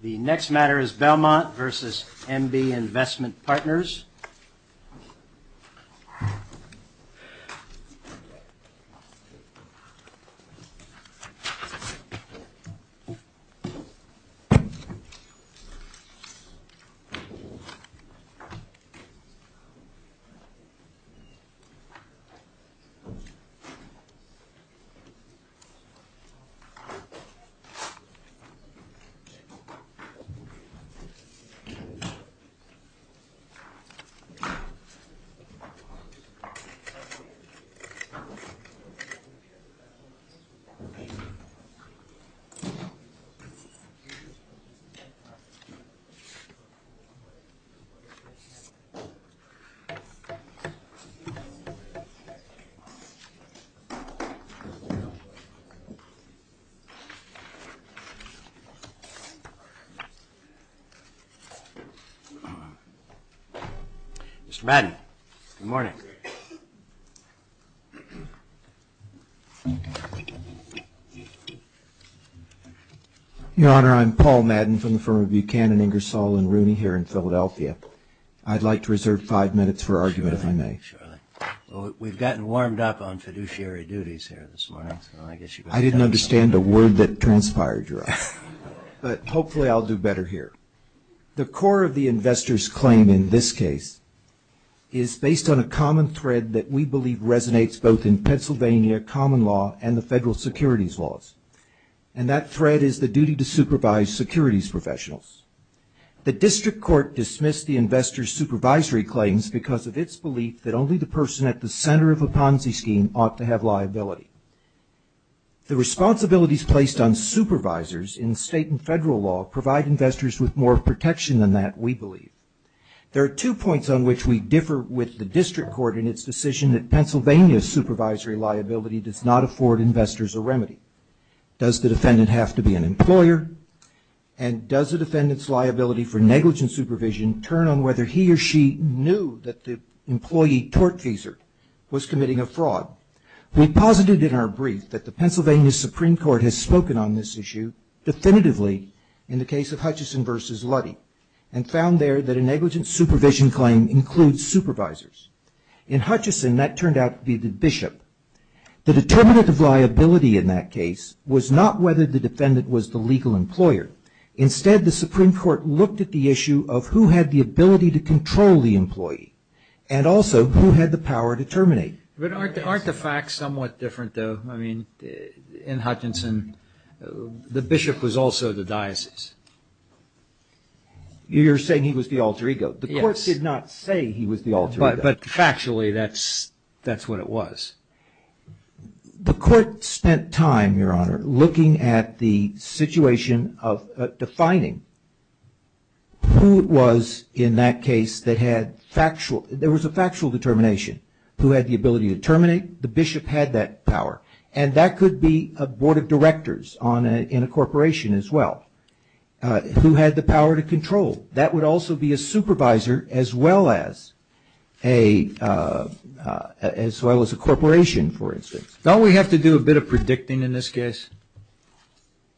The next matter is Belmont v. MB Investment Partners. The next matter is Belmont v. MB Investment Partners. Mr. Madden, good morning. Your honor, I'm Paul Madden from the firm of Buchanan, Ingersoll & Rooney here in Philadelphia. I'd like to reserve five minutes for argument if you may. We've gotten warmed up on fiduciary duties here this morning. I didn't understand a word that transpired, Your Honor, but hopefully I'll do better here. The core of the investor's claim in this case is based on a common thread that we believe resonates both in Pennsylvania common law and the federal securities laws. And that thread is the duty to supervise securities professionals. The district court dismissed the investor's supervisory claims because of its belief that only the person at the center of a Ponzi scheme ought to have liability. The responsibilities placed on supervisors in state and federal law provide investors with more protection than that, we believe. There are two points on which we differ with the district court in its decision that Pennsylvania's supervisory liability does not afford investors a remedy. Does the defendant have to be an employer, and does the defendant's liability for negligent supervision turn on whether he or she knew that the employee tortfeasor was committing a fraud? We posited in our brief that the Pennsylvania Supreme Court has spoken on this issue definitively in the case of Hutchison versus Luddy, and found there that a negligent supervision claim includes supervisors. In Hutchison, that turned out to be the bishop. The determinant of liability in that case was not whether the defendant was the legal employer. Instead, the Supreme Court looked at the issue of who had the ability to control the employee, and also who had the power to terminate. But aren't the facts somewhat different, though? I mean, in Hutchison, the bishop was also the diocese. You're saying he was the alter ego. The court did not say he was the alter ego. But factually, that's what it was. The court spent time, Your Honor, looking at the situation of defining who it was in that case that had factual there was a factual determination, who had the ability to terminate. The bishop had that power. And that could be a board of directors in a corporation as well, who had the power to control. That would also be a supervisor as well as a corporation, for instance. Don't we have to do a bit of predicting in this case?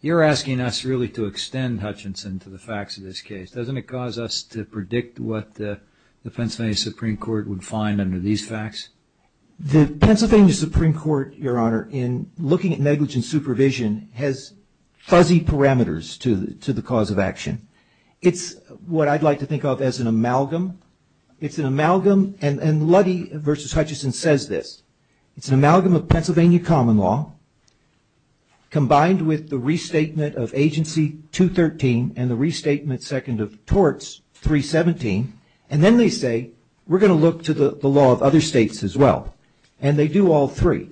You're asking us really to extend Hutchison to the facts of this case. Doesn't it cause us to predict what the Pennsylvania Supreme Court would find under these facts? The Pennsylvania Supreme Court, Your Honor, in looking at negligent supervision, has fuzzy parameters to the cause of action. It's what I'd like to think of as an amalgam. It's an amalgam. And Luddy v. Hutchison says this. It's an amalgam of Pennsylvania common law combined with the restatement of Agency 213 and the restatement second of Torts 317. And then they say, we're going to look to the law of other states as well. And they do all three.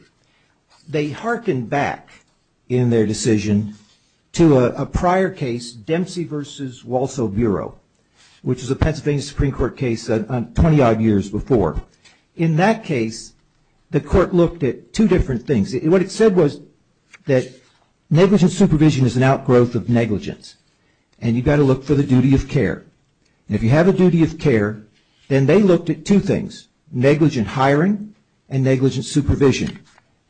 They harken back in their decision to a prior case, Dempsey v. Walsall Bureau, which is a Pennsylvania Supreme Court case 20-odd years before. In that case, the court looked at two different things. What it said was that negligent supervision is an outgrowth of negligence, and you've got to look for the duty of care. And if you have a duty of care, then they looked at two things, negligent hiring and negligent supervision.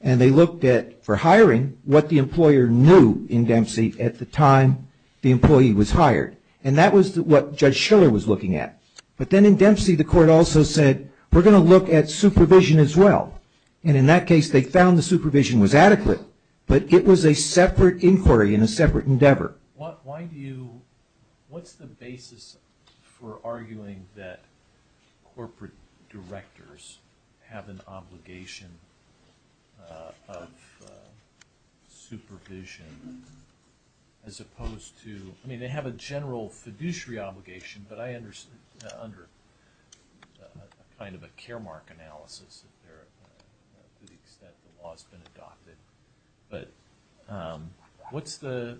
And they looked at, for hiring, what the employer knew in Dempsey at the time the employee was hired. And that was what Judge Schiller was looking at. But then in Dempsey, the court also said, we're going to look at supervision as well. And in that case, they found the supervision was adequate, but it was a separate inquiry and a separate endeavor. Robert, what's the basis for arguing that corporate directors have an obligation of supervision as opposed to – I mean, they have a general fiduciary obligation, but I understand, under kind of a care mark analysis, to the extent the law has been adopted. But what's the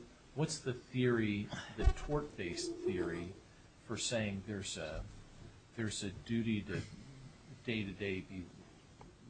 theory, the tort-based theory, for saying there's a duty to day-to-day be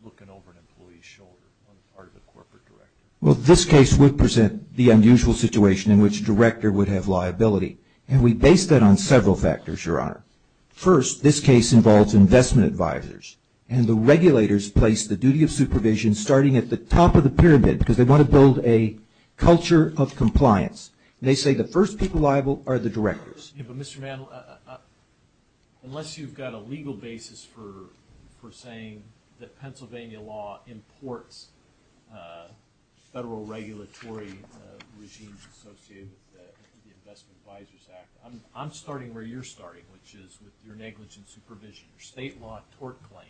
looking over an employee's shoulder on the part of a corporate director? Well, this case would present the unusual situation in which a director would have liability. And we base that on several factors, Your Honor. First, this case involves investment advisors, and the regulators place the duty of supervision starting at the top of the pyramid, because they want to build a culture of compliance. They say the first people liable are the directors. But, Mr. Mandel, unless you've got a legal basis for saying that Pennsylvania law imports federal regulatory regimes associated with the Investment Advisors Act, I'm starting where you're starting, which is with your negligent supervision, your state law tort claim.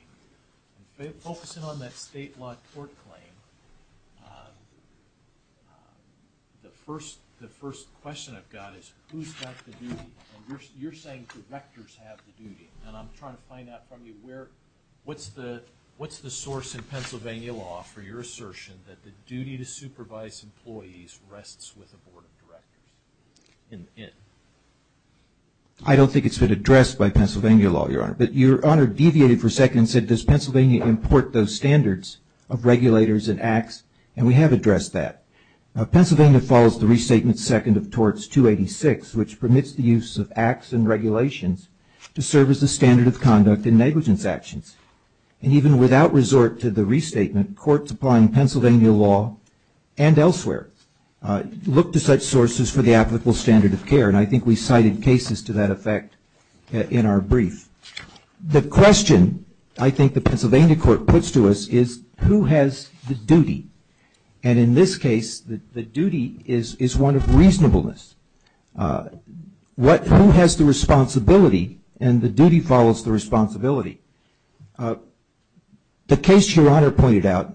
Focusing on that state law tort claim, the first question I've got is, who's got the duty? And you're saying directors have the duty. And I'm trying to find out from you what's the source in Pennsylvania law for your assertion that the duty to supervise employees rests with a board of directors? I don't think it's been addressed by Pennsylvania law, Your Honor. But Your Honor deviated for a second and said, does Pennsylvania import those standards of regulators and acts? And we have addressed that. Pennsylvania follows the Restatement Second of Torts 286, which permits the use of acts and regulations to serve as the standard of conduct in negligence actions. And even without resort to the restatement, courts applying Pennsylvania law and elsewhere look to such sources for the applicable standard of care. And I think we cited cases to that effect in our brief. The question I think the Pennsylvania court puts to us is, who has the duty? And in this case, the duty is one of reasonableness. Who has the responsibility? And the duty follows the responsibility. The case Your Honor pointed out,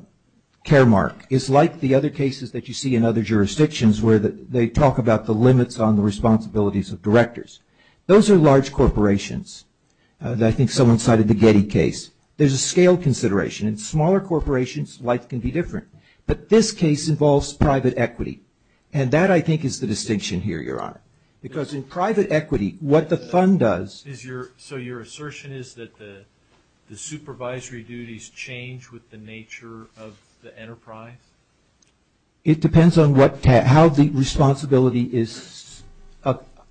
Caremark, is like the other cases that you see in other jurisdictions where they talk about the limits on the responsibilities of directors. Those are large corporations. I think someone cited the Getty case. There's a scale consideration. In smaller corporations, life can be different. But this case involves private equity. And that, I think, is the distinction here, Your Honor. Because in private equity, what the fund does... with the nature of the enterprise? It depends on how the responsibility is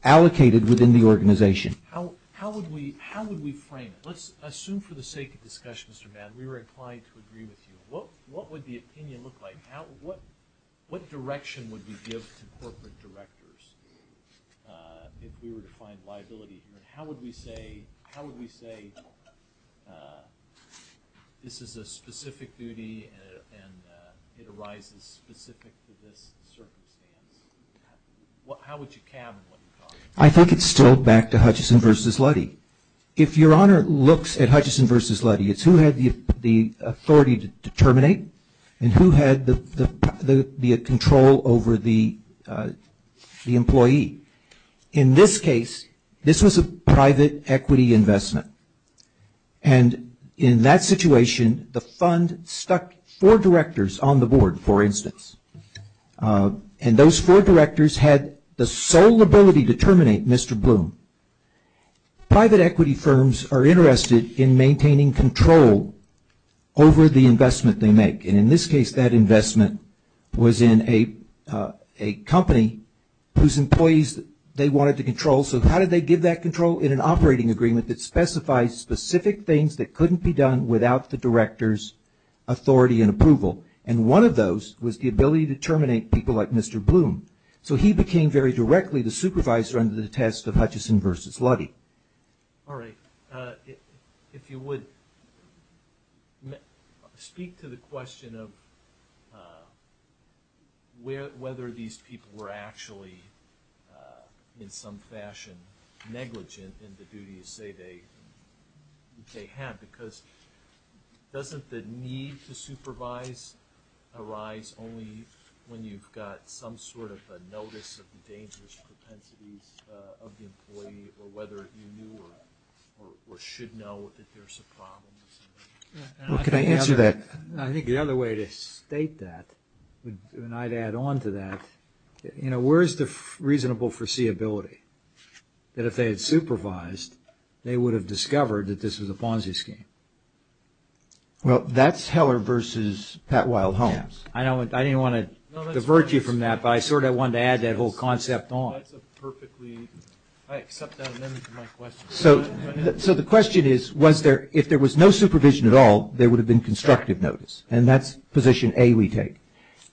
allocated within the organization. How would we frame it? Let's assume for the sake of discussion, Mr. Mann, we were inclined to agree with you. What would the opinion look like? What direction would we give to corporate directors if we were to find liability here? How would we say this is a specific duty and it arises specific to this circumstance? How would you cabin what you call it? I think it's still back to Hutchison v. Luddy. If Your Honor looks at Hutchison v. Luddy, it's who had the authority to terminate and who had the control over the employee. In this case, this was a private equity investment. And in that situation, the fund stuck four directors on the board, for instance. And those four directors had the sole ability to terminate Mr. Bloom. Private equity firms are interested in maintaining control over the investment they make. And in this case, that investment was in a company whose employees they wanted to control. So how did they give that control? In an operating agreement that specifies specific things that couldn't be done without the director's authority and approval. And one of those was the ability to terminate people like Mr. Bloom. So he became very directly the supervisor under the test of Hutchison v. Luddy. All right. If you would speak to the question of whether these people were actually in some fashion negligent in the duties, say, they had. Because doesn't the need to supervise arise only when you've got some sort of a notice of the dangerous propensities of the employee or whether you knew or should know that there's a problem? Well, can I answer that? I think the other way to state that, and I'd add on to that, where is the reasonable foreseeability that if they had supervised, they would have discovered that this was a Ponzi scheme? Well, that's Heller v. Pat Wildholme. I didn't want to divert you from that, but I sort of wanted to add that whole concept on. So the question is, if there was no supervision at all, there would have been constructive notice. And that's position A we take.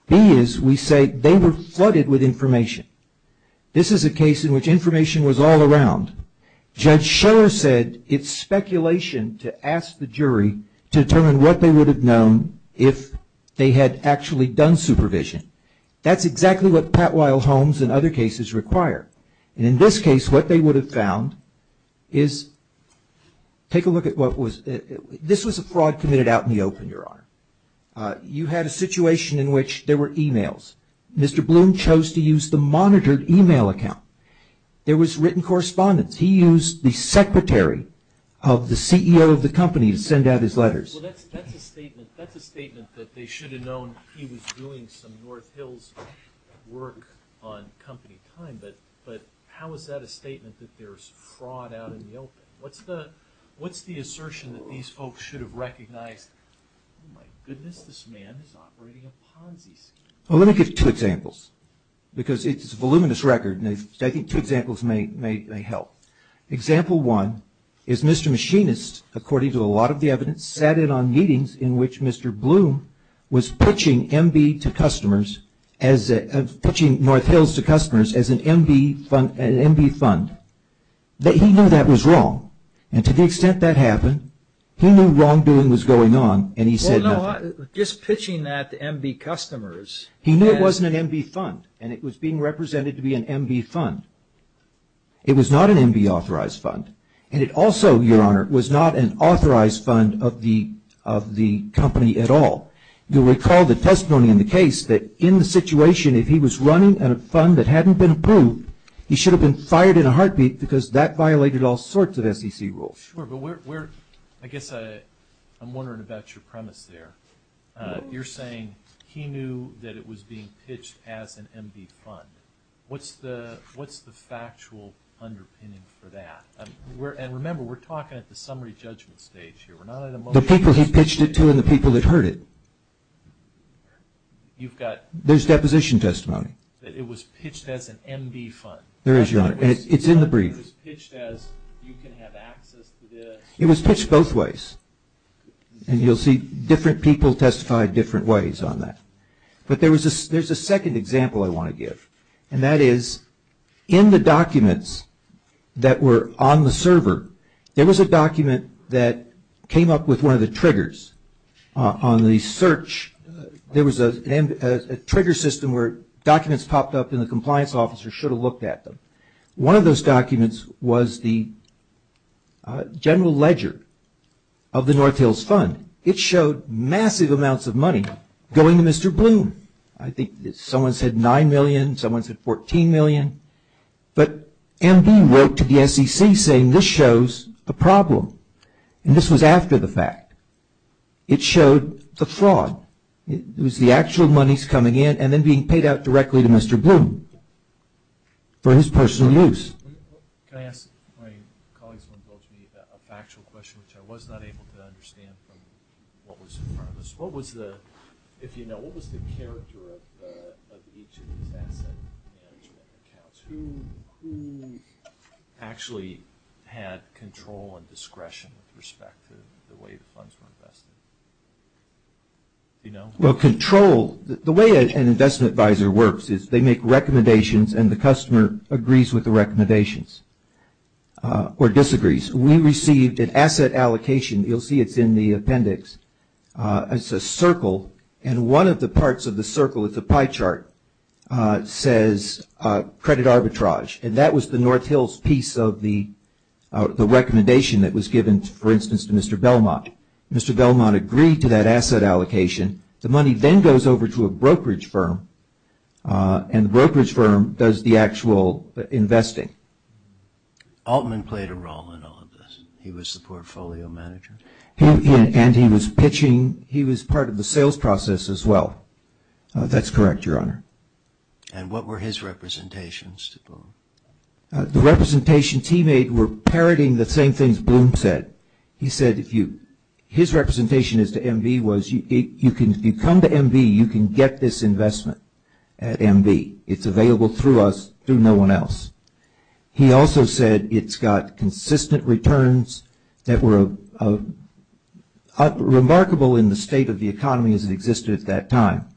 B is we say they were flooded with information. This is a case in which information was all around. Judge Sheller said it's speculation to ask the jury to determine what they would have known if they had actually done supervision. That's exactly what Pat Wildholme's and other cases require. And in this case, what they would have found is, take a look at what was, this was a fraud committed out in the open, Your Honor. You had a situation in which there were emails. Mr. Bloom chose to use the monitored email account. There was written correspondence. He used the secretary of the CEO of the company to send out his letters. Well, that's a statement that they should have known he was doing some North Hills work on company time, but how is that a statement that there's fraud out in the open? What's the assertion that these folks should have recognized? Oh my goodness, this man is operating a Ponzi scheme. Well, let me give you two examples because it's a voluminous record and I think two examples may help. Example one is Mr. Machinist, according to a lot of the evidence, sat in on meetings in which Mr. Bloom was pitching North Hills to customers as an MB fund. He knew that was wrong, and to the extent that happened, he knew wrongdoing was going on and he said nothing. Well, no, just pitching that to MB customers... He knew it wasn't an MB fund and it was being represented to be an MB fund. It was not an MB authorized fund and it also, Your Honor, was not an authorized fund of the company at all. You'll recall the testimony in the case that in the situation, if he was running a fund that hadn't been approved, he should have been fired in a heartbeat because that violated all sorts of SEC rules. Sure, but I guess I'm wondering about your premise there. You're saying he knew that it was being pitched as an MB fund. What's the factual underpinning for that? And remember, we're talking at the summary judgment stage here. The people he pitched it to and the people that heard it. There's deposition testimony. It was pitched as an MB fund. There is, Your Honor. It's in the brief. It was pitched as you can have access to the... It was pitched both ways and you'll see different people testify different ways on that. But there's a second example I want to give and that is in the documents that were on the server, there was a document that came up with one of the triggers. On the search, there was a trigger system where documents popped up and the compliance officer should have looked at them. One of those documents was the general ledger of the North Hills Fund. It showed massive amounts of money going to Mr. Bloom. I think someone said $9 million. Someone said $14 million. But MB wrote to the SEC saying this shows the problem and this was after the fact. It showed the fraud. It was the actual monies coming in and then being paid out directly to Mr. Bloom for his personal use. Can I ask my colleagues a factual question which I was not able to understand from what was in front of us? What was the, if you know, what was the character of each of these asset management accounts? Who actually had control and discretion with respect to the way the funds were invested? Do you know? Well, control. The way an investment advisor works is they make recommendations and the customer agrees with the recommendations or disagrees. We received an asset allocation. You'll see it's in the appendix. It's a circle and one of the parts of the circle, it's a pie chart, says credit arbitrage and that was the North Hills piece of the recommendation that was given, for instance, to Mr. Belmont. Mr. Belmont agreed to that asset allocation. The money then goes over to a brokerage firm and the brokerage firm does the actual investing. Altman played a role in all of this. He was the portfolio manager. And he was pitching. He was part of the sales process as well. That's correct, Your Honor. And what were his representations to Bloom? The representations he made were parroting the same things Bloom said. He said his representation as to MV was if you come to MV, you can get this investment at MV. It's available through us, through no one else. He also said it's got consistent returns that were remarkable in the state of the economy as it existed at that time.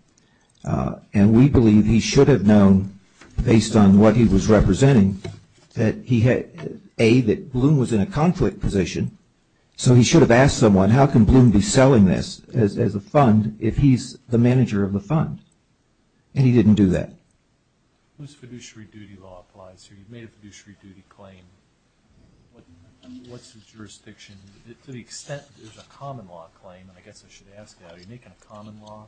And we believe he should have known, based on what he was representing, that he had, A, that Bloom was in a conflict position, so he should have asked someone, how can Bloom be selling this as a fund if he's the manager of the fund? And he didn't do that. Whose fiduciary duty law applies here? You've made a fiduciary duty claim. What's the jurisdiction? To the extent there's a common law claim, and I guess I should ask that, are you making a common law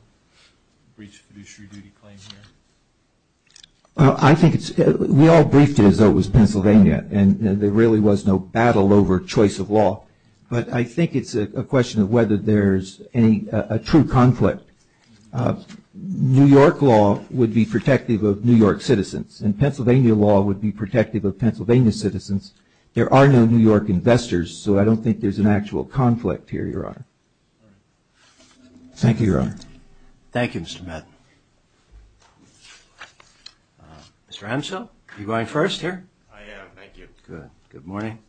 breach fiduciary duty claim here? I think we all briefed it as though it was Pennsylvania, and there really was no battle over choice of law. But I think it's a question of whether there's a true conflict. New York law would be protective of New York citizens, and Pennsylvania law would be protective of Pennsylvania citizens. There are no New York investors, so I don't think there's an actual conflict here, Your Honor. Thank you, Your Honor. Thank you, Mr. Madden. Mr. Ansell, are you going first here? I am, thank you. Good. Good morning.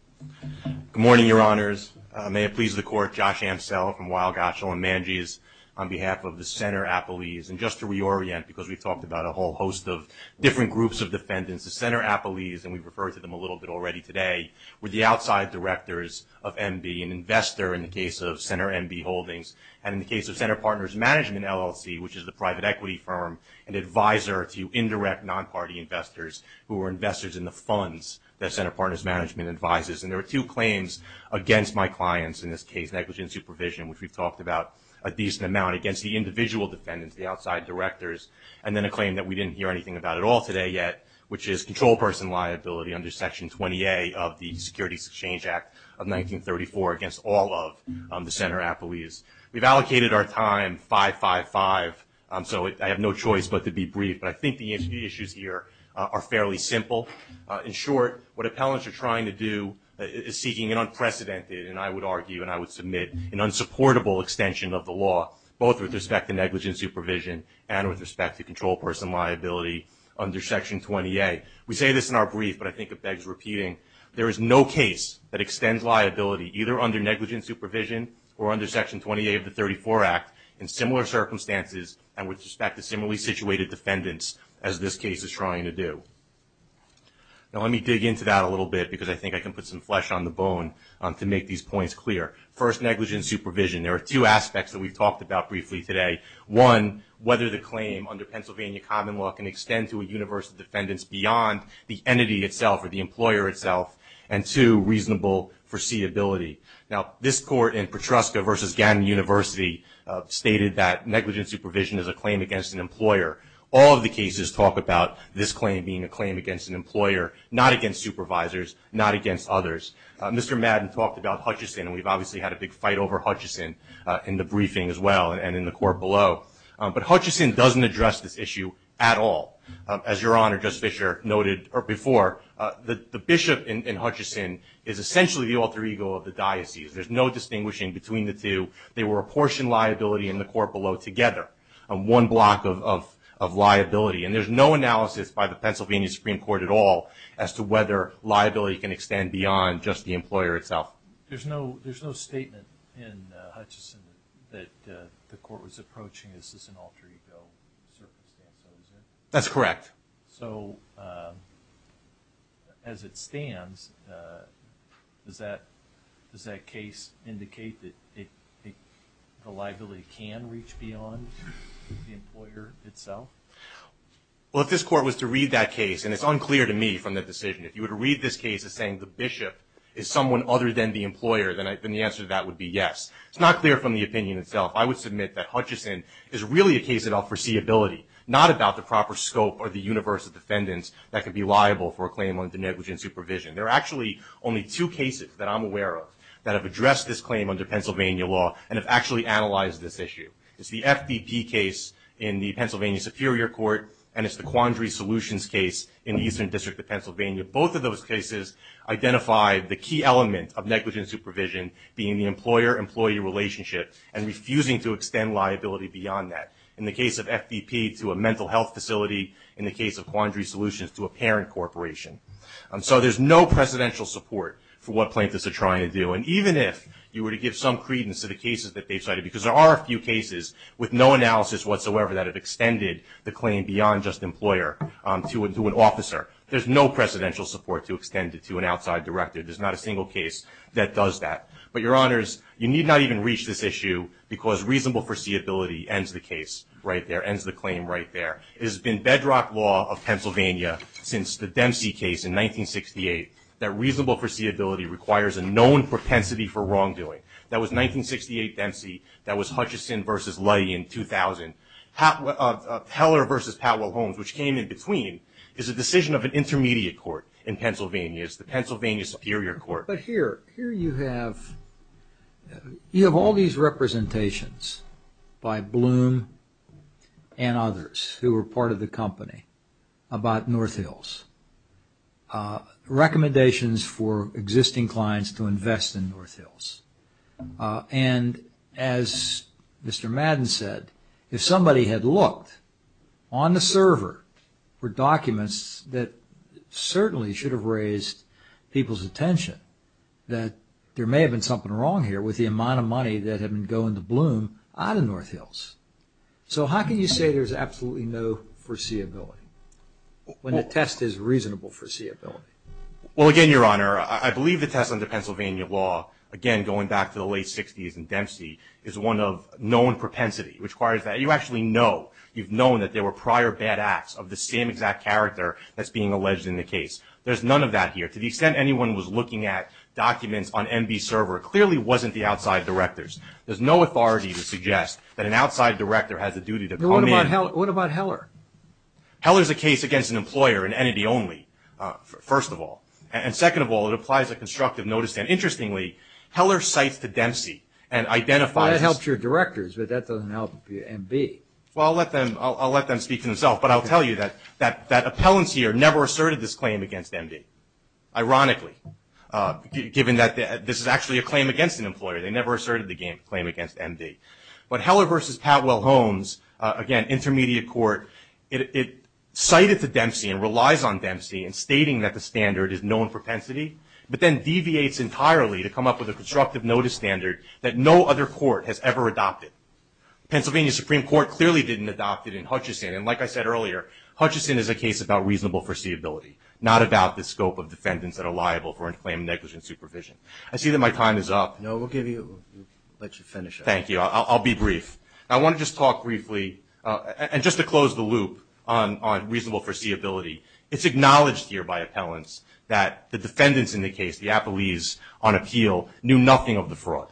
Good morning, Your Honors. May it please the Court, Josh Ansell from Weill Goschel and Manjis on behalf of the Center Appellees. And just to reorient, because we've talked about a whole host of different groups of defendants, the Center Appellees, and we've referred to them a little bit already today, were the outside directors of MB, an investor in the case of Center MB Holdings, and in the case of Center Partners Management LLC, which is the private equity firm, an advisor to indirect non-party investors who are investors in the funds that Center Partners Management advises. And there are two claims against my clients in this case, negligent supervision, which we've talked about a decent amount, against the individual defendants, the outside directors, and then a claim that we didn't hear anything about at all today yet, which is control person liability under Section 20A of the Securities Exchange Act of 1934 against all of the Center Appellees. We've allocated our time 5-5-5, so I have no choice but to be brief, but I think the issues here are fairly simple. In short, what appellants are trying to do is seeking an unprecedented, and I would argue and I would submit, an unsupportable extension of the law, both with respect to negligent supervision and with respect to control person liability under Section 20A. We say this in our brief, but I think it begs repeating. There is no case that extends liability, either under negligent supervision or under Section 20A of the 34 Act, in similar circumstances and with respect to similarly situated defendants, as this case is trying to do. Now let me dig into that a little bit, because I think I can put some flesh on the bone to make these points clear. First, negligent supervision. There are two aspects that we've talked about briefly today. One, whether the claim under Pennsylvania common law can extend to a universe of defendants beyond the entity itself or the employer itself, and two, reasonable foreseeability. Now this court in Petruska v. Gannon University stated that negligent supervision is a claim against an employer. All of the cases talk about this claim being a claim against an employer, not against supervisors, not against others. Mr. Madden talked about Hutchison, and we've obviously had a big fight over Hutchison in the briefing as well and in the court below. But Hutchison doesn't address this issue at all. As Your Honor, Judge Fischer noted before, the bishop in Hutchison is essentially the alter ego of the diocese. There's no distinguishing between the two. They were a portion liability in the court below together, one block of liability. And there's no analysis by the Pennsylvania Supreme Court at all as to whether liability can extend beyond just the employer itself. There's no statement in Hutchison that the court was approaching, is this an alter ego circumstance? That's correct. So as it stands, does that case indicate that the liability can reach beyond the employer itself? Well, if this court was to read that case, and it's unclear to me from the decision, if you were to read this case as saying the bishop is someone other than the employer, then the answer to that would be yes. It's not clear from the opinion itself. I would submit that Hutchison is really a case of unforeseeability, not about the proper scope or the universe of defendants that could be liable for a claim under negligent supervision. There are actually only two cases that I'm aware of that have addressed this claim under Pennsylvania law and have actually analyzed this issue. It's the FBP case in the Pennsylvania Superior Court, and it's the Quandary Solutions case in the Eastern District of Pennsylvania. Both of those cases identify the key element of negligent supervision being the employer-employee relationship and refusing to extend liability beyond that. In the case of FBP to a mental health facility, in the case of Quandary Solutions to a parent corporation. So there's no precedential support for what plaintiffs are trying to do. And even if you were to give some credence to the cases that they cited, because there are a few cases with no analysis whatsoever that have extended the claim beyond just employer to an officer, there's no precedential support to extend it to an outside director. There's not a single case that does that. But, Your Honors, you need not even reach this issue, because reasonable foreseeability ends the case right there, ends the claim right there. It has been bedrock law of Pennsylvania since the Dempsey case in 1968 that reasonable foreseeability requires a known propensity for wrongdoing. That was 1968 Dempsey. That was Hutchison v. Luddy in 2000. Heller v. Powell Holmes, which came in between, is a decision of an intermediate court in Pennsylvania. It's the Pennsylvania Superior Court. But here you have all these representations by Bloom and others who were part of the company about North Hills, recommendations for existing clients to invest in North Hills. And as Mr. Madden said, if somebody had looked on the server for documents that certainly should have raised people's attention, that there may have been something wrong here with the amount of money that had been going to Bloom out of North Hills. So how can you say there's absolutely no foreseeability when the test is reasonable foreseeability? Well, again, Your Honor, I believe the test under Pennsylvania law, again, going back to the late 60s and Dempsey, is one of known propensity, which requires that you actually know, you've known that there were prior bad acts of the same exact character that's being alleged in the case. There's none of that here. To the extent anyone was looking at documents on MB server, it clearly wasn't the outside directors. There's no authority to suggest that an outside director has a duty to come in. What about Heller? Heller's a case against an employer, an entity only, first of all. And second of all, it applies a constructive notice. And interestingly, Heller cites the Dempsey and identifies – Well, that helps your directors, but that doesn't help MB. Well, I'll let them speak for themselves. But I'll tell you that appellants here never asserted this claim against MB, ironically, given that this is actually a claim against an employer. They never asserted the claim against MB. But Heller versus Patwell Holmes, again, intermediate court, it cited the Dempsey and relies on Dempsey in stating that the standard is known propensity, but then deviates entirely to come up with a constructive notice standard that no other court has ever adopted. Pennsylvania Supreme Court clearly didn't adopt it in Hutchison. And like I said earlier, Hutchison is a case about reasonable foreseeability, not about the scope of defendants that are liable for unclaimed negligent supervision. I see that my time is up. No, we'll give you – let you finish up. Thank you. I'll be brief. I want to just talk briefly – and just to close the loop on reasonable foreseeability, it's acknowledged here by appellants that the defendants in the case, the appellees on appeal, knew nothing of the fraud.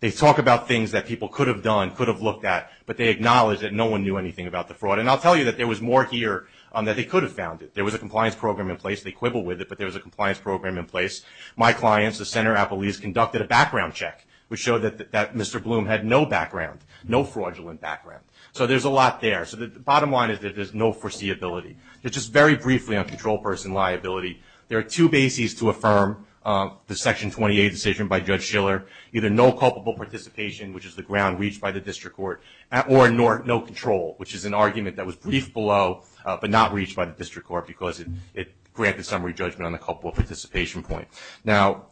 They talk about things that people could have done, could have looked at, but they acknowledge that no one knew anything about the fraud. And I'll tell you that there was more here that they could have found. There was a compliance program in place. They quibble with it, but there was a compliance program in place. My clients, the center appellees, conducted a background check, which showed that Mr. Bloom had no background, no fraudulent background. So there's a lot there. So the bottom line is that there's no foreseeability. Just very briefly on control person liability, there are two bases to affirm the Section 28 decision by Judge Schiller, either no culpable participation, which is the ground reached by the district court, or no control, which is an argument that was briefed below but not reached by the district court because it granted summary judgment on the culpable participation point. Now,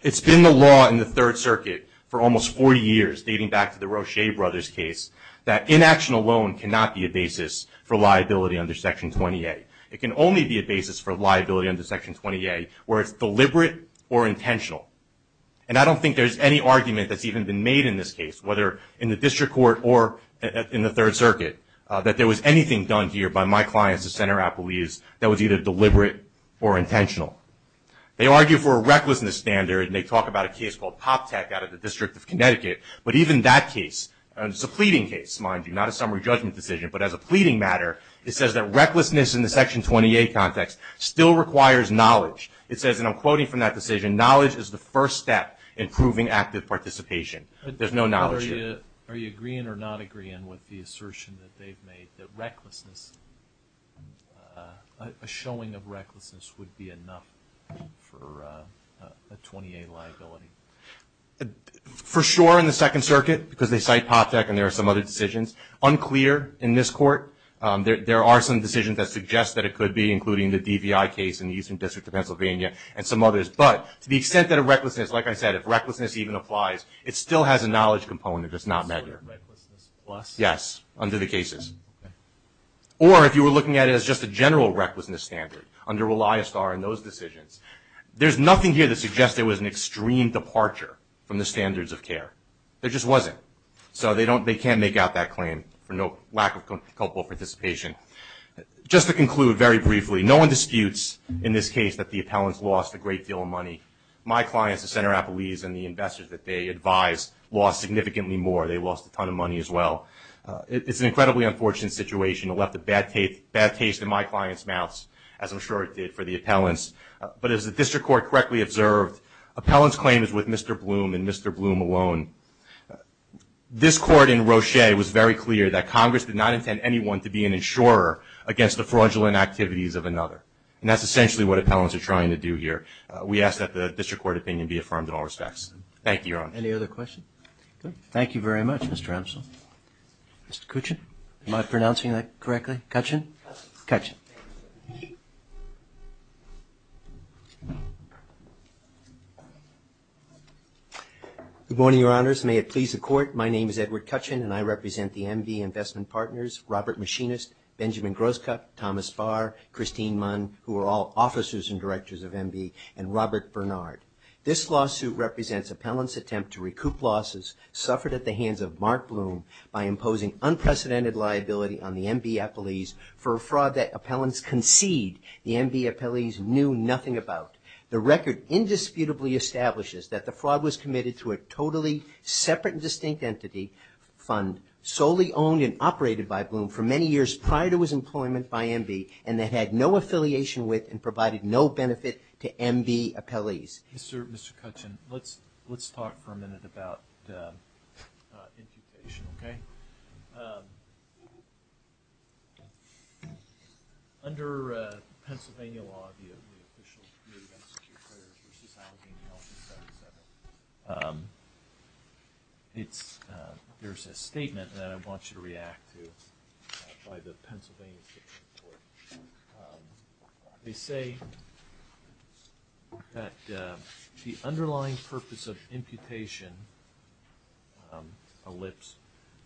it's been the law in the Third Circuit for almost 40 years, dating back to the Roche brothers' case, that inaction alone cannot be a basis for liability under Section 28. It can only be a basis for liability under Section 28 where it's deliberate or intentional. And I don't think there's any argument that's even been made in this case, whether in the district court or in the Third Circuit, that there was anything done here by my clients, the center appellees, that was either deliberate or intentional. They argue for a recklessness standard, and they talk about a case called PopTech out of the District of Connecticut, but even that case, it's a pleading case, mind you, not a summary judgment decision, but as a pleading matter, it says that recklessness in the Section 28 context still requires knowledge. It says, and I'm quoting from that decision, knowledge is the first step in proving active participation. There's no knowledge here. Are you agreeing or not agreeing with the assertion that they've made that recklessness, a showing of recklessness would be enough for a 28 liability? For sure in the Second Circuit, because they cite PopTech and there are some other decisions. Unclear in this court. There are some decisions that suggest that it could be, including the DVI case in the Eastern District of Pennsylvania and some others. But to the extent that a recklessness, like I said, if recklessness even applies, it still has a knowledge component. It's not measured. So recklessness plus? Yes, under the cases. Or if you were looking at it as just a general recklessness standard, under ReliASTAR and those decisions. There's nothing here that suggests there was an extreme departure from the standards of care. There just wasn't. So they can't make out that claim for lack of culpable participation. Just to conclude very briefly, no one disputes in this case that the appellants lost a great deal of money. My clients, the Center Appellees and the investors that they advise, lost significantly more. They lost a ton of money as well. It's an incredibly unfortunate situation. It left a bad taste in my clients' mouths, as I'm sure it did for the appellants. But as the district court correctly observed, appellants' claim is with Mr. Bloom and Mr. Bloom alone. This court in Roche was very clear that Congress did not intend anyone to be an insurer against the fraudulent activities of another. And that's essentially what appellants are trying to do here. We ask that the district court opinion be affirmed in all respects. Thank you, Your Honor. Any other questions? Good. Thank you very much, Mr. Amsel. Mr. Kuchin? Am I pronouncing that correctly? Kuchin? Kuchin. Thank you. Good morning, Your Honors. May it please the Court, my name is Edward Kuchin, and I represent the MB Investment Partners, Robert Machinist, Benjamin Groskup, Thomas Farr, Christine Munn, who are all officers and directors of MB, and Robert Bernard. This lawsuit represents appellants' attempt to recoup losses suffered at the hands of Mark Bloom by imposing unprecedented liability on the MB appellees for a fraud that appellants concede the MB appellees knew nothing about. The record indisputably establishes that the fraud was committed through a totally separate and distinct entity fund solely owned and operated by Bloom for many years prior to his employment by MB and that had no affiliation with and provided no benefit to MB appellees. Mr. Kuchin, let's talk for a minute about incubation, okay? Under Pennsylvania law, there's a statement that I want you to react to by the Pennsylvania State Supreme Court. They say that the underlying purpose of imputation, ellipse,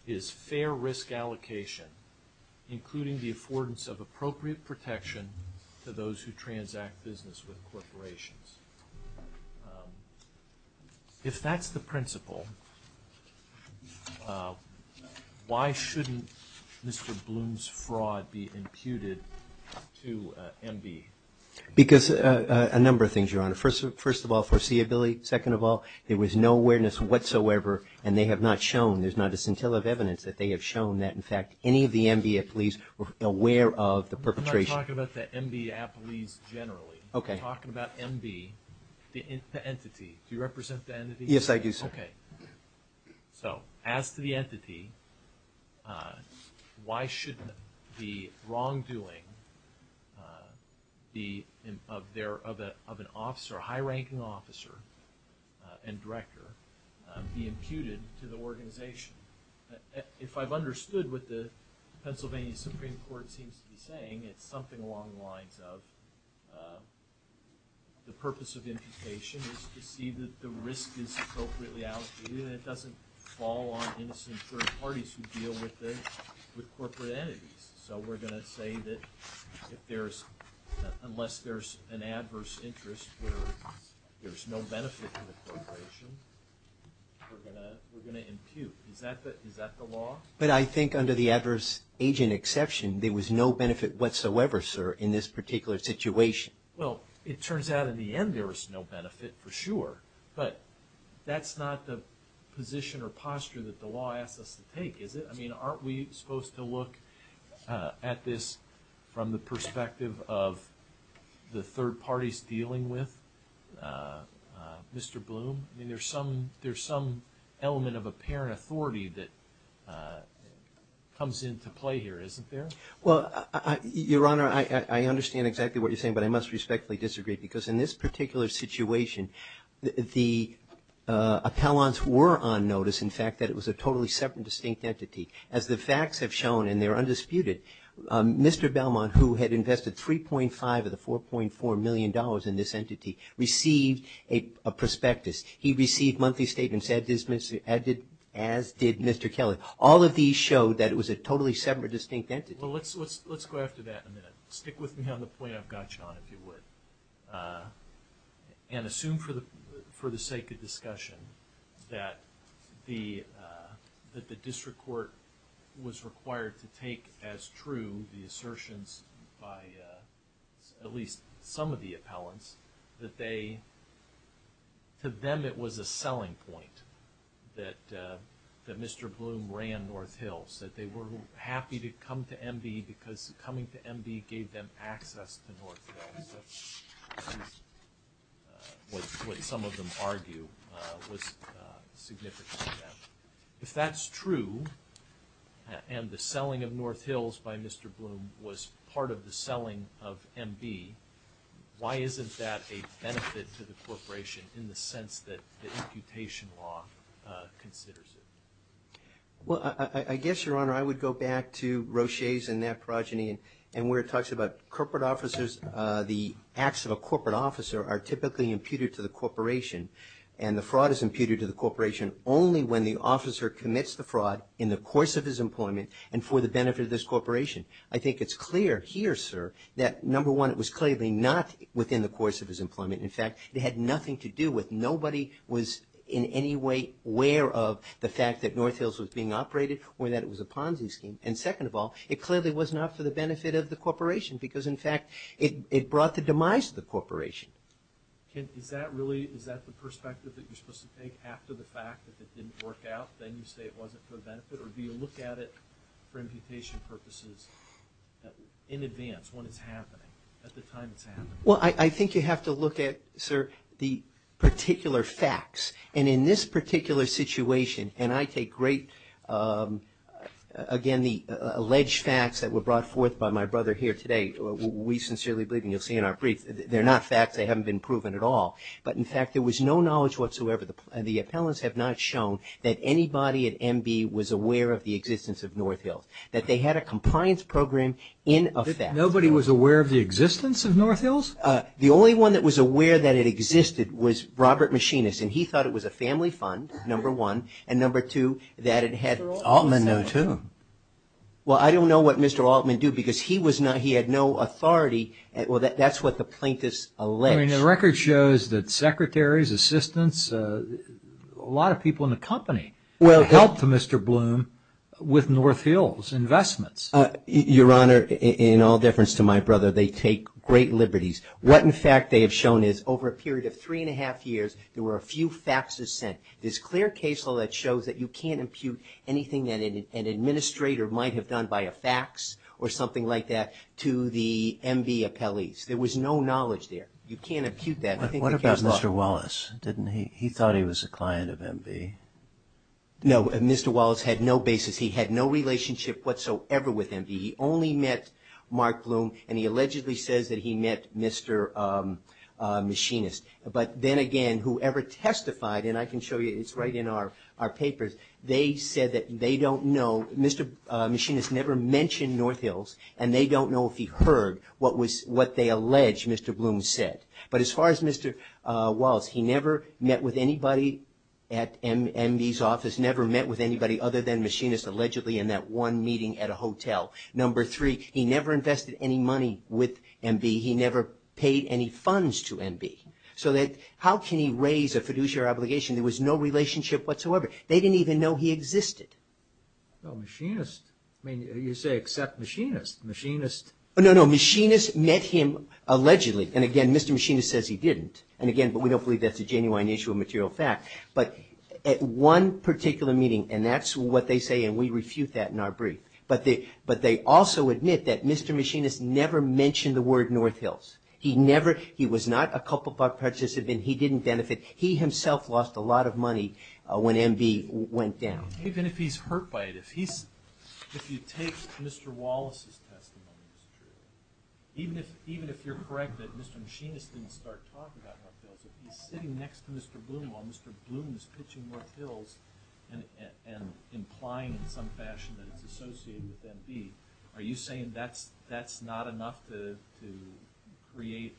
is fair risk allocation including the affordance of appropriate protection to those who transact business with corporations. If that's the principle, why shouldn't Mr. Bloom's fraud be imputed to MB? Because a number of things, Your Honor. First of all, foreseeability. Second of all, there was no awareness whatsoever and they have not shown, there's not a scintilla of evidence that they have shown that in fact any of the MB appellees were aware of the perpetration. I'm not talking about the MB appellees generally. Okay. I'm talking about MB, the entity. Do you represent the entity? Yes, I do, sir. Okay. So as to the entity, why shouldn't the wrongdoing of an officer, and director, be imputed to the organization? If I've understood what the Pennsylvania Supreme Court seems to be saying, it's something along the lines of the purpose of imputation is to see that the risk is appropriately allocated and it doesn't fall on innocent third parties who deal with corporate entities. So we're going to say that unless there's an adverse interest where there's no benefit to the corporation, we're going to impute. Is that the law? But I think under the adverse agent exception, there was no benefit whatsoever, sir, in this particular situation. Well, it turns out in the end there was no benefit for sure, but that's not the position or posture that the law asks us to take, is it? I mean, aren't we supposed to look at this from the perspective of the third parties dealing with Mr. Bloom? I mean, there's some element of apparent authority that comes into play here, isn't there? Well, Your Honor, I understand exactly what you're saying, but I must respectfully disagree because in this particular situation, the appellants were on notice, in fact, that it was a totally separate, distinct entity. As the facts have shown, and they're undisputed, Mr. Belmont, who had invested $3.5 of the $4.4 million in this entity, received a prospectus. He received monthly statements, as did Mr. Kelley. All of these showed that it was a totally separate, distinct entity. Well, let's go after that in a minute. Stick with me on the point I've got you on, if you would, and assume for the sake of discussion that the district court was required to make, if that's true, the assertions by at least some of the appellants, that to them it was a selling point that Mr. Bloom ran North Hills, that they were happy to come to M.D. because coming to M.D. gave them access to North Hills, which is what some of them argue was significant to them. If that's true, and the selling of North Hills by Mr. Bloom was part of the selling of M.D., why isn't that a benefit to the corporation in the sense that the imputation law considers it? Well, I guess, Your Honor, I would go back to Roche's and that progeny, and where it talks about corporate officers, the acts of a corporate officer are typically imputed to the corporation, and the fraud is imputed to the corporation only when the officer commits the fraud in the course of his employment and for the benefit of this corporation. I think it's clear here, sir, that, number one, it was clearly not within the course of his employment. In fact, it had nothing to do with nobody was in any way aware of the fact that North Hills was being operated or that it was a Ponzi scheme. And second of all, it clearly was not for the benefit of the corporation because, in fact, it brought the demise of the corporation. Is that the perspective that you're supposed to take after the fact that it didn't work out, then you say it wasn't for the benefit, or do you look at it for imputation purposes in advance when it's happening, at the time it's happening? Well, I think you have to look at, sir, the particular facts. And in this particular situation, and I take great, again, the alleged facts that were brought forth by my brother here today, we sincerely believe, and you'll see in our brief, they're not facts, they haven't been proven at all. But, in fact, there was no knowledge whatsoever, and the appellants have not shown that anybody at MB was aware of the existence of North Hills, that they had a compliance program in effect. Nobody was aware of the existence of North Hills? The only one that was aware that it existed was Robert Machinist, and he thought it was a family fund, number one, and, number two, that it had Mr. Altman knew, too. Well, I don't know what Mr. Altman knew because he had no authority. Well, that's what the plaintiffs allege. I mean, the record shows that secretaries, assistants, a lot of people in the company helped Mr. Bloom with North Hills investments. Your Honor, in all difference to my brother, they take great liberties. What, in fact, they have shown is over a period of three and a half years, there were a few faxes sent. This clear case law that shows that you can't impute anything that an administrator might have done by a fax or something like that to the MB appellees. There was no knowledge there. You can't impute that. What about Mr. Wallace? He thought he was a client of MB. No, Mr. Wallace had no basis. He had no relationship whatsoever with MB. He only met Mark Bloom, and he allegedly says that he met Mr. Machinist. But then again, whoever testified, and I can show you, it's right in our papers, they said that they don't know. Mr. Machinist never mentioned North Hills, and they don't know if he heard what they allege Mr. Bloom said. But as far as Mr. Wallace, he never met with anybody at MB's office, never met with anybody other than Machinist allegedly in that one meeting at a hotel. Number three, he never invested any money with MB. He never paid any funds to MB. So how can he raise a fiduciary obligation? There was no relationship whatsoever. They didn't even know he existed. No, Machinist, I mean, you say except Machinist. No, no, Machinist met him allegedly. And again, Mr. Machinist says he didn't. And again, but we don't believe that's a genuine issue of material fact. But at one particular meeting, and that's what they say, and we refute that in our brief, but they also admit that Mr. Machinist never mentioned the word North Hills. He never, he was not a Kupferberg participant. He didn't benefit. He himself lost a lot of money when MB went down. Even if he's hurt by it, if you take Mr. Wallace's testimony as true, even if you're correct that Mr. Machinist didn't start talking about North Hills, if he's sitting next to Mr. Bloom while Mr. Bloom is pitching North Hills and implying in some fashion that it's associated with MB, are you saying that's not enough to create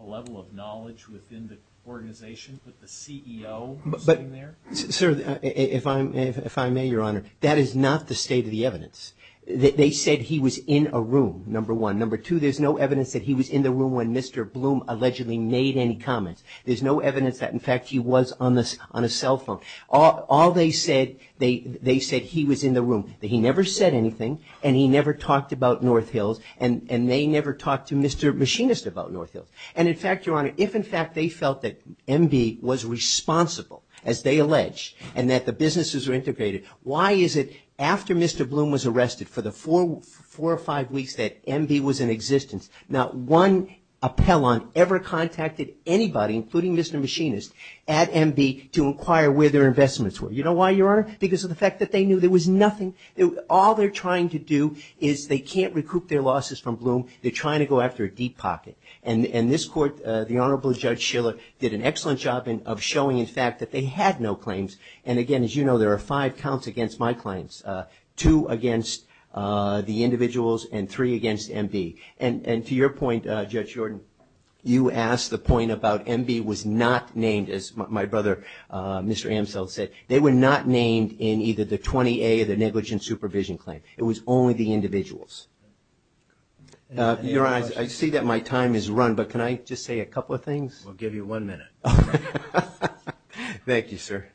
a level of knowledge within the organization, with the CEO sitting there? Sir, if I may, Your Honor, that is not the state of the evidence. They said he was in a room, number one. Number two, there's no evidence that he was in the room when Mr. Bloom allegedly made any comments. There's no evidence that, in fact, he was on a cell phone. All they said, they said he was in the room, that he never said anything and he never talked about North Hills and they never talked to Mr. Machinist about North Hills. And, in fact, Your Honor, if in fact they felt that MB was responsible, as they allege, and that the businesses were integrated, why is it after Mr. Bloom was arrested for the four or five weeks that MB was in existence, not one appellant ever contacted anybody, including Mr. Machinist, at MB to inquire where their investments were. You know why, Your Honor? Because of the fact that they knew there was nothing. All they're trying to do is they can't recoup their losses from Bloom. They're trying to go after a deep pocket. And this court, the Honorable Judge Shiller, did an excellent job of showing, in fact, that they had no claims. And, again, as you know, there are five counts against my claims, two against the individuals and three against MB. And to your point, Judge Jordan, you asked the point about MB was not named, as my brother, Mr. Amsell, said. They were not named in either the 20A or the negligent supervision claim. It was only the individuals. Your Honor, I see that my time has run, but can I just say a couple of things? We'll give you one minute. Thank you, sir.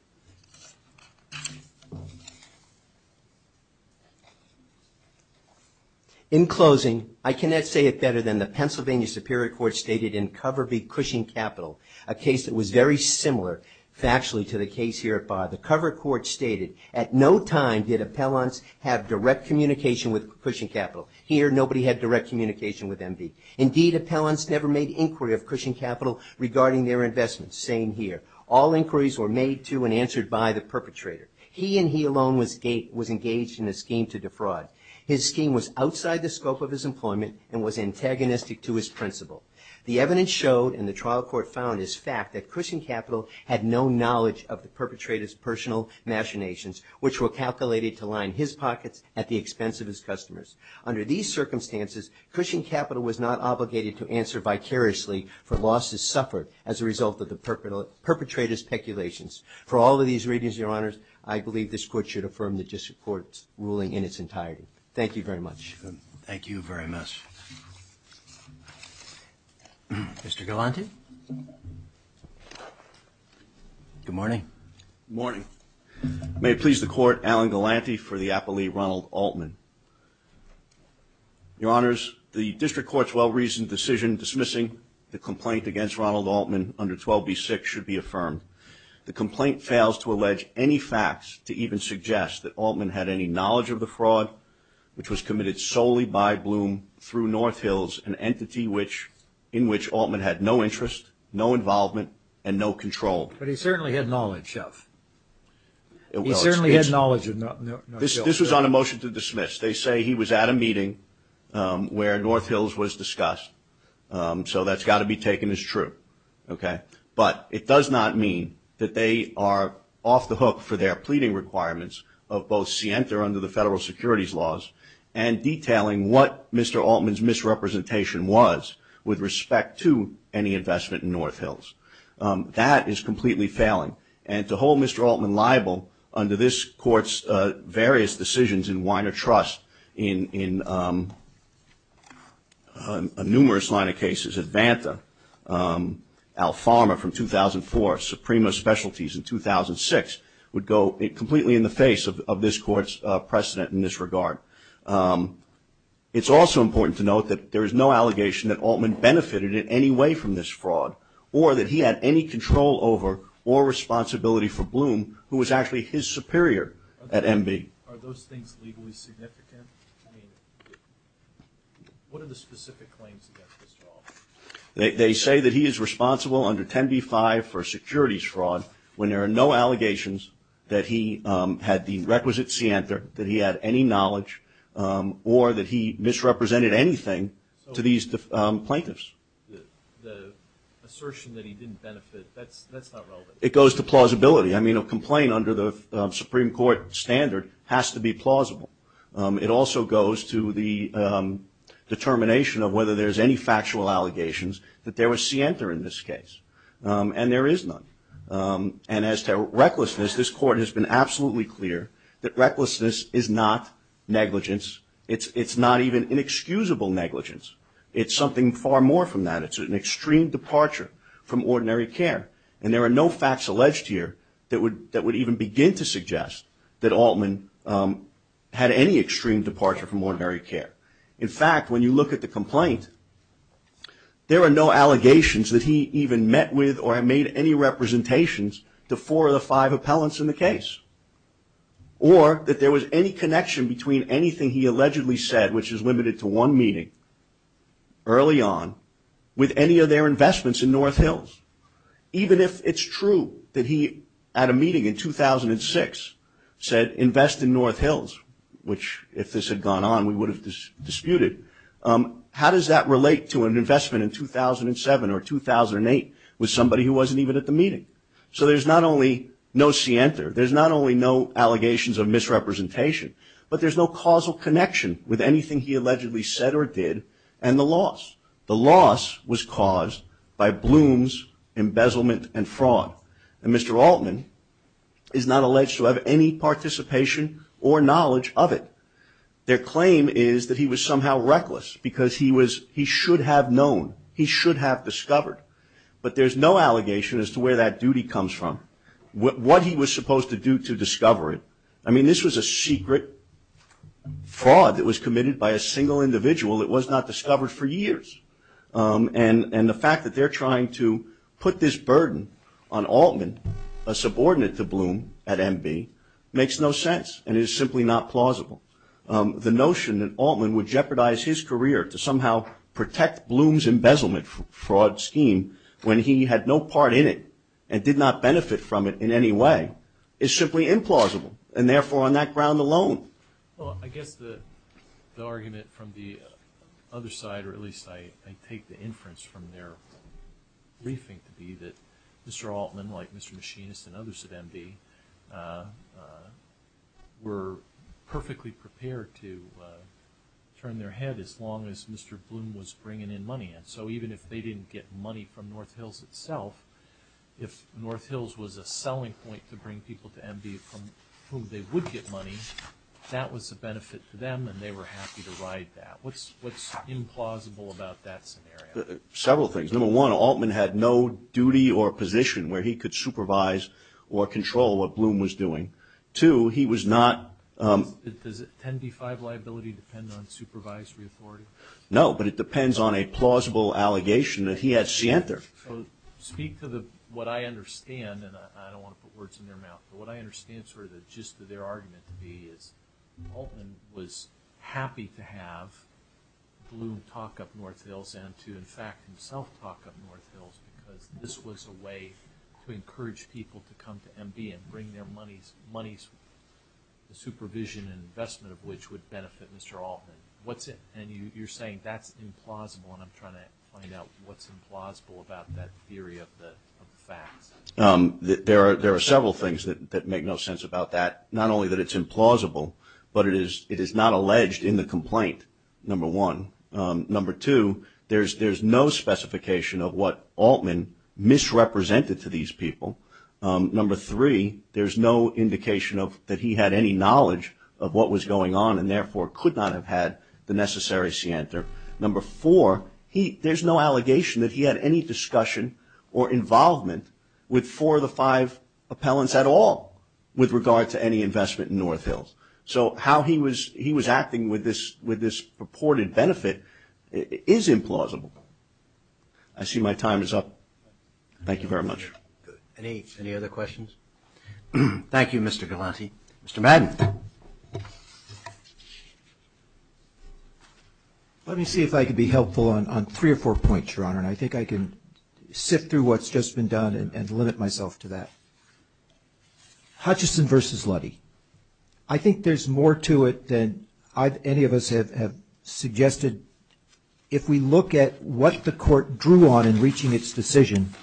In closing, I cannot say it better than the Pennsylvania Superior Court stated in Cover v. Cushing Capital, a case that was very similar factually to the case here at Bar. The Cover Court stated, at no time did appellants have direct communication with Cushing Capital. Here, nobody had direct communication with MB. Indeed, appellants never made inquiry of Cushing Capital regarding their investments. Same here. All inquiries were made to and answered by the perpetrator. He and he alone was engaged in a scheme to defraud. His scheme was outside the scope of his employment and was antagonistic to his principle. The evidence showed, and the trial court found, is fact that Cushing Capital had no knowledge of the perpetrator's personal machinations, which were calculated to line his pockets at the expense of his customers. Under these circumstances, Cushing Capital was not obligated to answer vicariously for losses suffered as a result of the perpetrator's peculations. For all of these reasons, your honors, I believe this court should affirm the district court's ruling in its entirety. Thank you very much. Thank you very much. Mr. Galante? Good morning. Good morning. May it please the court, Alan Galante for the appellee Ronald Altman. Your honors, the district court's well-reasoned decision dismissing the complaint against Ronald Altman under 12B6 should be affirmed. The complaint fails to allege any facts to even suggest that Altman had any knowledge of the fraud, which was committed solely by Bloom through North Hills, an entity in which Altman had no interest, no involvement, and no control. But he certainly had knowledge of. He certainly had knowledge of North Hills. This was on a motion to dismiss. They say he was at a meeting where North Hills was discussed. So that's got to be taken as true. Okay? But it does not mean that they are off the hook for their pleading requirements of both Sienta, under the federal securities laws, and detailing what Mr. Altman's misrepresentation was with respect to any investment in North Hills. That is completely failing. And to hold Mr. Altman liable under this court's various decisions in Weiner Trust, in a numerous line of cases at Vanta, Alpharma from 2004, Suprema Specialties in 2006, would go completely in the face of this court's precedent in this regard. It's also important to note that there is no allegation that Altman benefited in any way from this fraud, or that he had any control over or responsibility for Bloom, who was actually his superior at MB. Are those things legally significant? What are the specific claims against Mr. Altman? They say that he is responsible under 10b-5 for securities fraud, when there are no allegations that he had the requisite Sienta, that he had any knowledge, or that he misrepresented anything to these plaintiffs. The assertion that he didn't benefit, that's not relevant. It goes to plausibility. I mean, a complaint under the Supreme Court standard has to be plausible. It also goes to the determination of whether there's any factual allegations that there was Sienta in this case. And there is none. And as to recklessness, this court has been absolutely clear that recklessness is not negligence. It's not even inexcusable negligence. It's something far more from that. It's an extreme departure from ordinary care. And there are no facts alleged here that would even begin to suggest that Altman had any extreme departure from ordinary care. In fact, when you look at the complaint, there are no allegations that he even met with or made any representations to four of the five appellants in the case, or that there was any connection between anything he allegedly said, which is limited to one meeting, early on, with any of their investments in North Hills. Even if it's true that he, at a meeting in 2006, said, invest in North Hills, which if this had gone on we would have disputed, how does that relate to an investment in 2007 or 2008 with somebody who wasn't even at the meeting? So there's not only no Sienta. There's not only no allegations of misrepresentation, but there's no causal connection with anything he allegedly said or did and the loss. The loss was caused by Bloom's embezzlement and fraud. And Mr. Altman is not alleged to have any participation or knowledge of it. Their claim is that he was somehow reckless because he should have known. He should have discovered. But there's no allegation as to where that duty comes from. What he was supposed to do to discover it. I mean, this was a secret fraud that was committed by a single individual. It was not discovered for years. And the fact that they're trying to put this burden on Altman, a subordinate to Bloom at MB, makes no sense and is simply not plausible. The notion that Altman would jeopardize his career to somehow protect Bloom's embezzlement fraud scheme when he had no part in it and did not benefit from it in any way is simply implausible. And therefore, on that ground alone. Well, I guess the argument from the other side, or at least I take the inference from their briefing to be that Mr. Altman, like Mr. Machinist and others at MB, were perfectly prepared to turn their head as long as Mr. Bloom was bringing in money. So even if they didn't get money from North Hills itself, if North Hills was a selling point to bring people to MB from whom they would get money, that was a benefit to them and they were happy to ride that. What's implausible about that scenario? Several things. Number one, Altman had no duty or position where he could supervise or control what Bloom was doing. Two, he was not... Does a 10B5 liability depend on supervised reauthority? No, but it depends on a plausible allegation that he had scienther. So speak to what I understand, and I don't want to put words in their mouth, but what I understand sort of the gist of their argument to be is Altman was happy to have Bloom talk up North Hills and to in fact himself talk up North Hills because this was a way to encourage people to come to MB and bring their monies, the supervision and investment of which would benefit Mr. Altman. And you're saying that's implausible, and I'm trying to find out what's implausible about that theory of the facts. There are several things that make no sense about that. Not only that it's implausible, but it is not alleged in the complaint, number one. Number two, there's no specification of what Altman misrepresented to these people. Number three, there's no indication that he had any knowledge of what was going on and therefore could not have had the necessary scienther. Number four, there's no allegation that he had any discussion or involvement with four of the five appellants at all with regard to any investment in North Hills. So how he was acting with this purported benefit is implausible. I see my time is up. Thank you very much. Any other questions? Thank you, Mr. Galante. Mr. Madden. Let me see if I can be helpful on three or four points, Your Honor, and I think I can sift through what's just been done and limit myself to that. Hutchison v. Luddy. I think there's more to it than any of us have suggested. If we look at what the court drew on in reaching its decision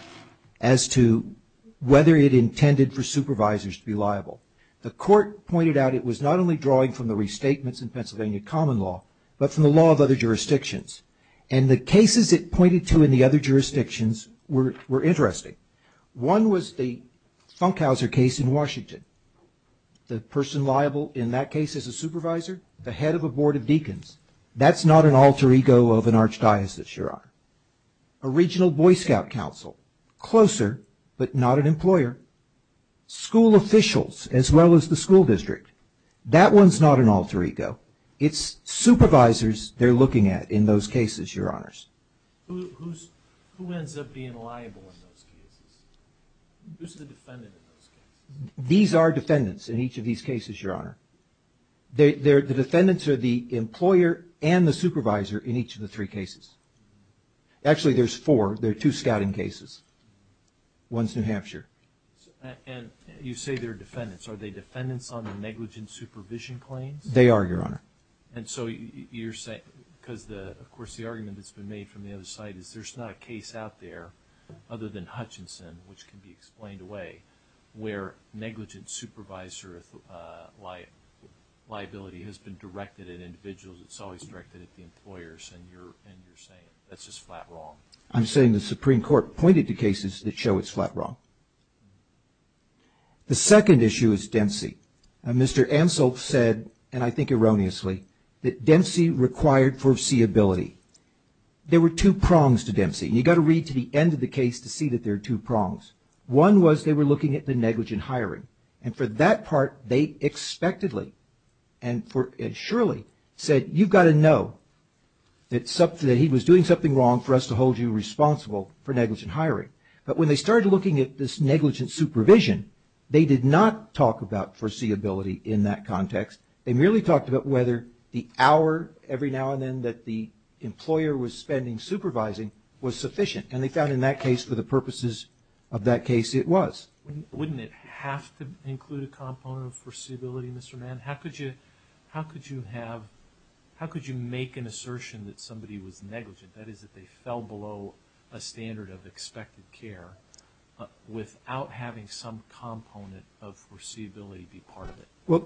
as to whether it intended for supervisors to be liable, the court pointed out it was not only drawing from the restatements in Pennsylvania common law, but from the law of other jurisdictions. And the cases it pointed to in the other jurisdictions were interesting. One was the Funkhauser case in Washington. The person liable in that case is a supervisor, the head of a board of deacons. That's not an alter ego of an archdiocese, Your Honor. A regional Boy Scout council, closer but not an employer. School officials, as well as the school district. That one's not an alter ego. It's supervisors they're looking at in those cases, Your Honors. Who ends up being liable in those cases? Who's the defendant in those cases? These are defendants in each of these cases, Your Honor. The defendants are the employer and the supervisor in each of the three cases. Actually, there's four. There are two scouting cases. One's New Hampshire. And you say they're defendants. Are they defendants on the negligent supervision claims? They are, Your Honor. And so you're saying, because, of course, the argument that's been made from the other side is there's not a case out there, other than Hutchinson, which can be explained away, where negligent supervisor liability has been directed at individuals. It's always directed at the employers, and you're saying that's just flat wrong. I'm saying the Supreme Court pointed to cases that show it's flat wrong. The second issue is Dempsey. Mr. Anselm said, and I think erroneously, that Dempsey required foreseeability. There were two prongs to Dempsey, and you've got to read to the end of the case to see that there are two prongs. One was they were looking at the negligent hiring. And for that part, they expectedly and surely said, you've got to know that he was doing something wrong for us to hold you responsible for negligent hiring. But when they started looking at this negligent supervision, they did not talk about foreseeability in that context. They merely talked about whether the hour every now and then that the employer was spending supervising was sufficient. And they found in that case, for the purposes of that case, it was. Wouldn't it have to include a component of foreseeability, Mr. Mann? How could you make an assertion that somebody was negligent, that is that they fell below a standard of expected care, without having some component of foreseeability be part of it? Well,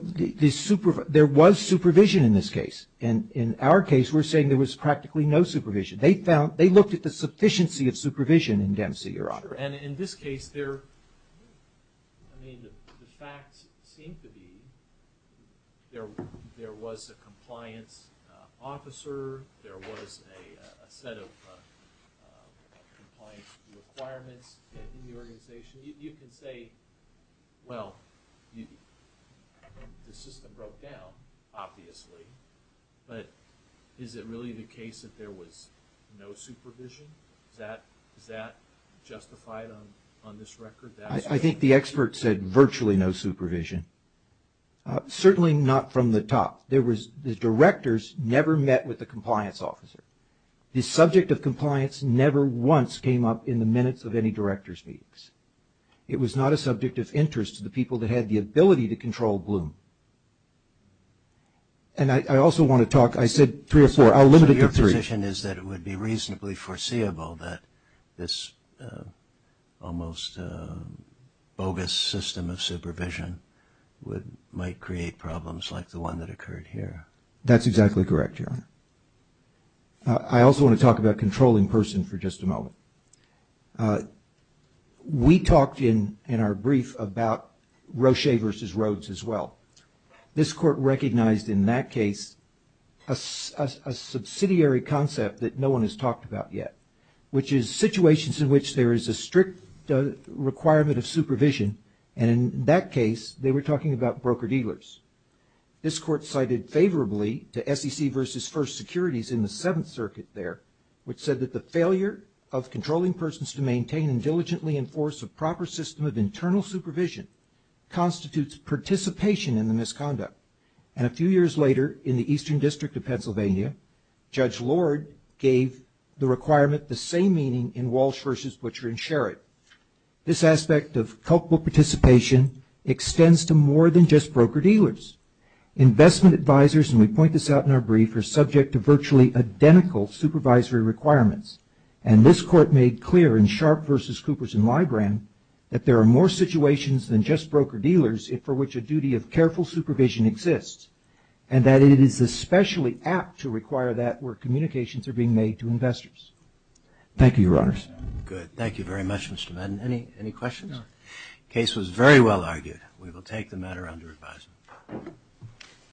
there was supervision in this case. In our case, we're saying there was practically no supervision. And in this case, the facts seem to be there was a compliance officer. There was a set of compliance requirements in the organization. You can say, well, the system broke down, obviously. But is it really the case that there was no supervision? Is that justified on this record? I think the expert said virtually no supervision. Certainly not from the top. The directors never met with the compliance officer. The subject of compliance never once came up in the minutes of any director's meetings. It was not a subject of interest to the people that had the ability to control Bloom. And I also want to talk, I said three or four, I'll limit it to three. My position is that it would be reasonably foreseeable that this almost bogus system of supervision might create problems like the one that occurred here. That's exactly correct, Your Honor. I also want to talk about controlling person for just a moment. We talked in our brief about Roche v. Rhodes as well. This court recognized in that case a subsidiary concept that no one has talked about yet, which is situations in which there is a strict requirement of supervision. And in that case, they were talking about broker-dealers. This court cited favorably to SEC v. First Securities in the Seventh Circuit there, which said that the failure of controlling persons to maintain and diligently enforce a proper system of internal supervision constitutes participation in the misconduct. And a few years later in the Eastern District of Pennsylvania, Judge Lord gave the requirement the same meaning in Walsh v. Butcher and Sherrod. This aspect of culpable participation extends to more than just broker-dealers. Investment advisors, and we point this out in our brief, are subject to virtually identical supervisory requirements. And this court made clear in Sharpe v. Coopers and Libran that there are more situations than just broker-dealers for which a duty of careful supervision exists, and that it is especially apt to require that where communications are being made to investors. Thank you, Your Honors. Good. Thank you very much, Mr. Madden. Any questions? No. Case was very well argued. We will take the matter under advisement.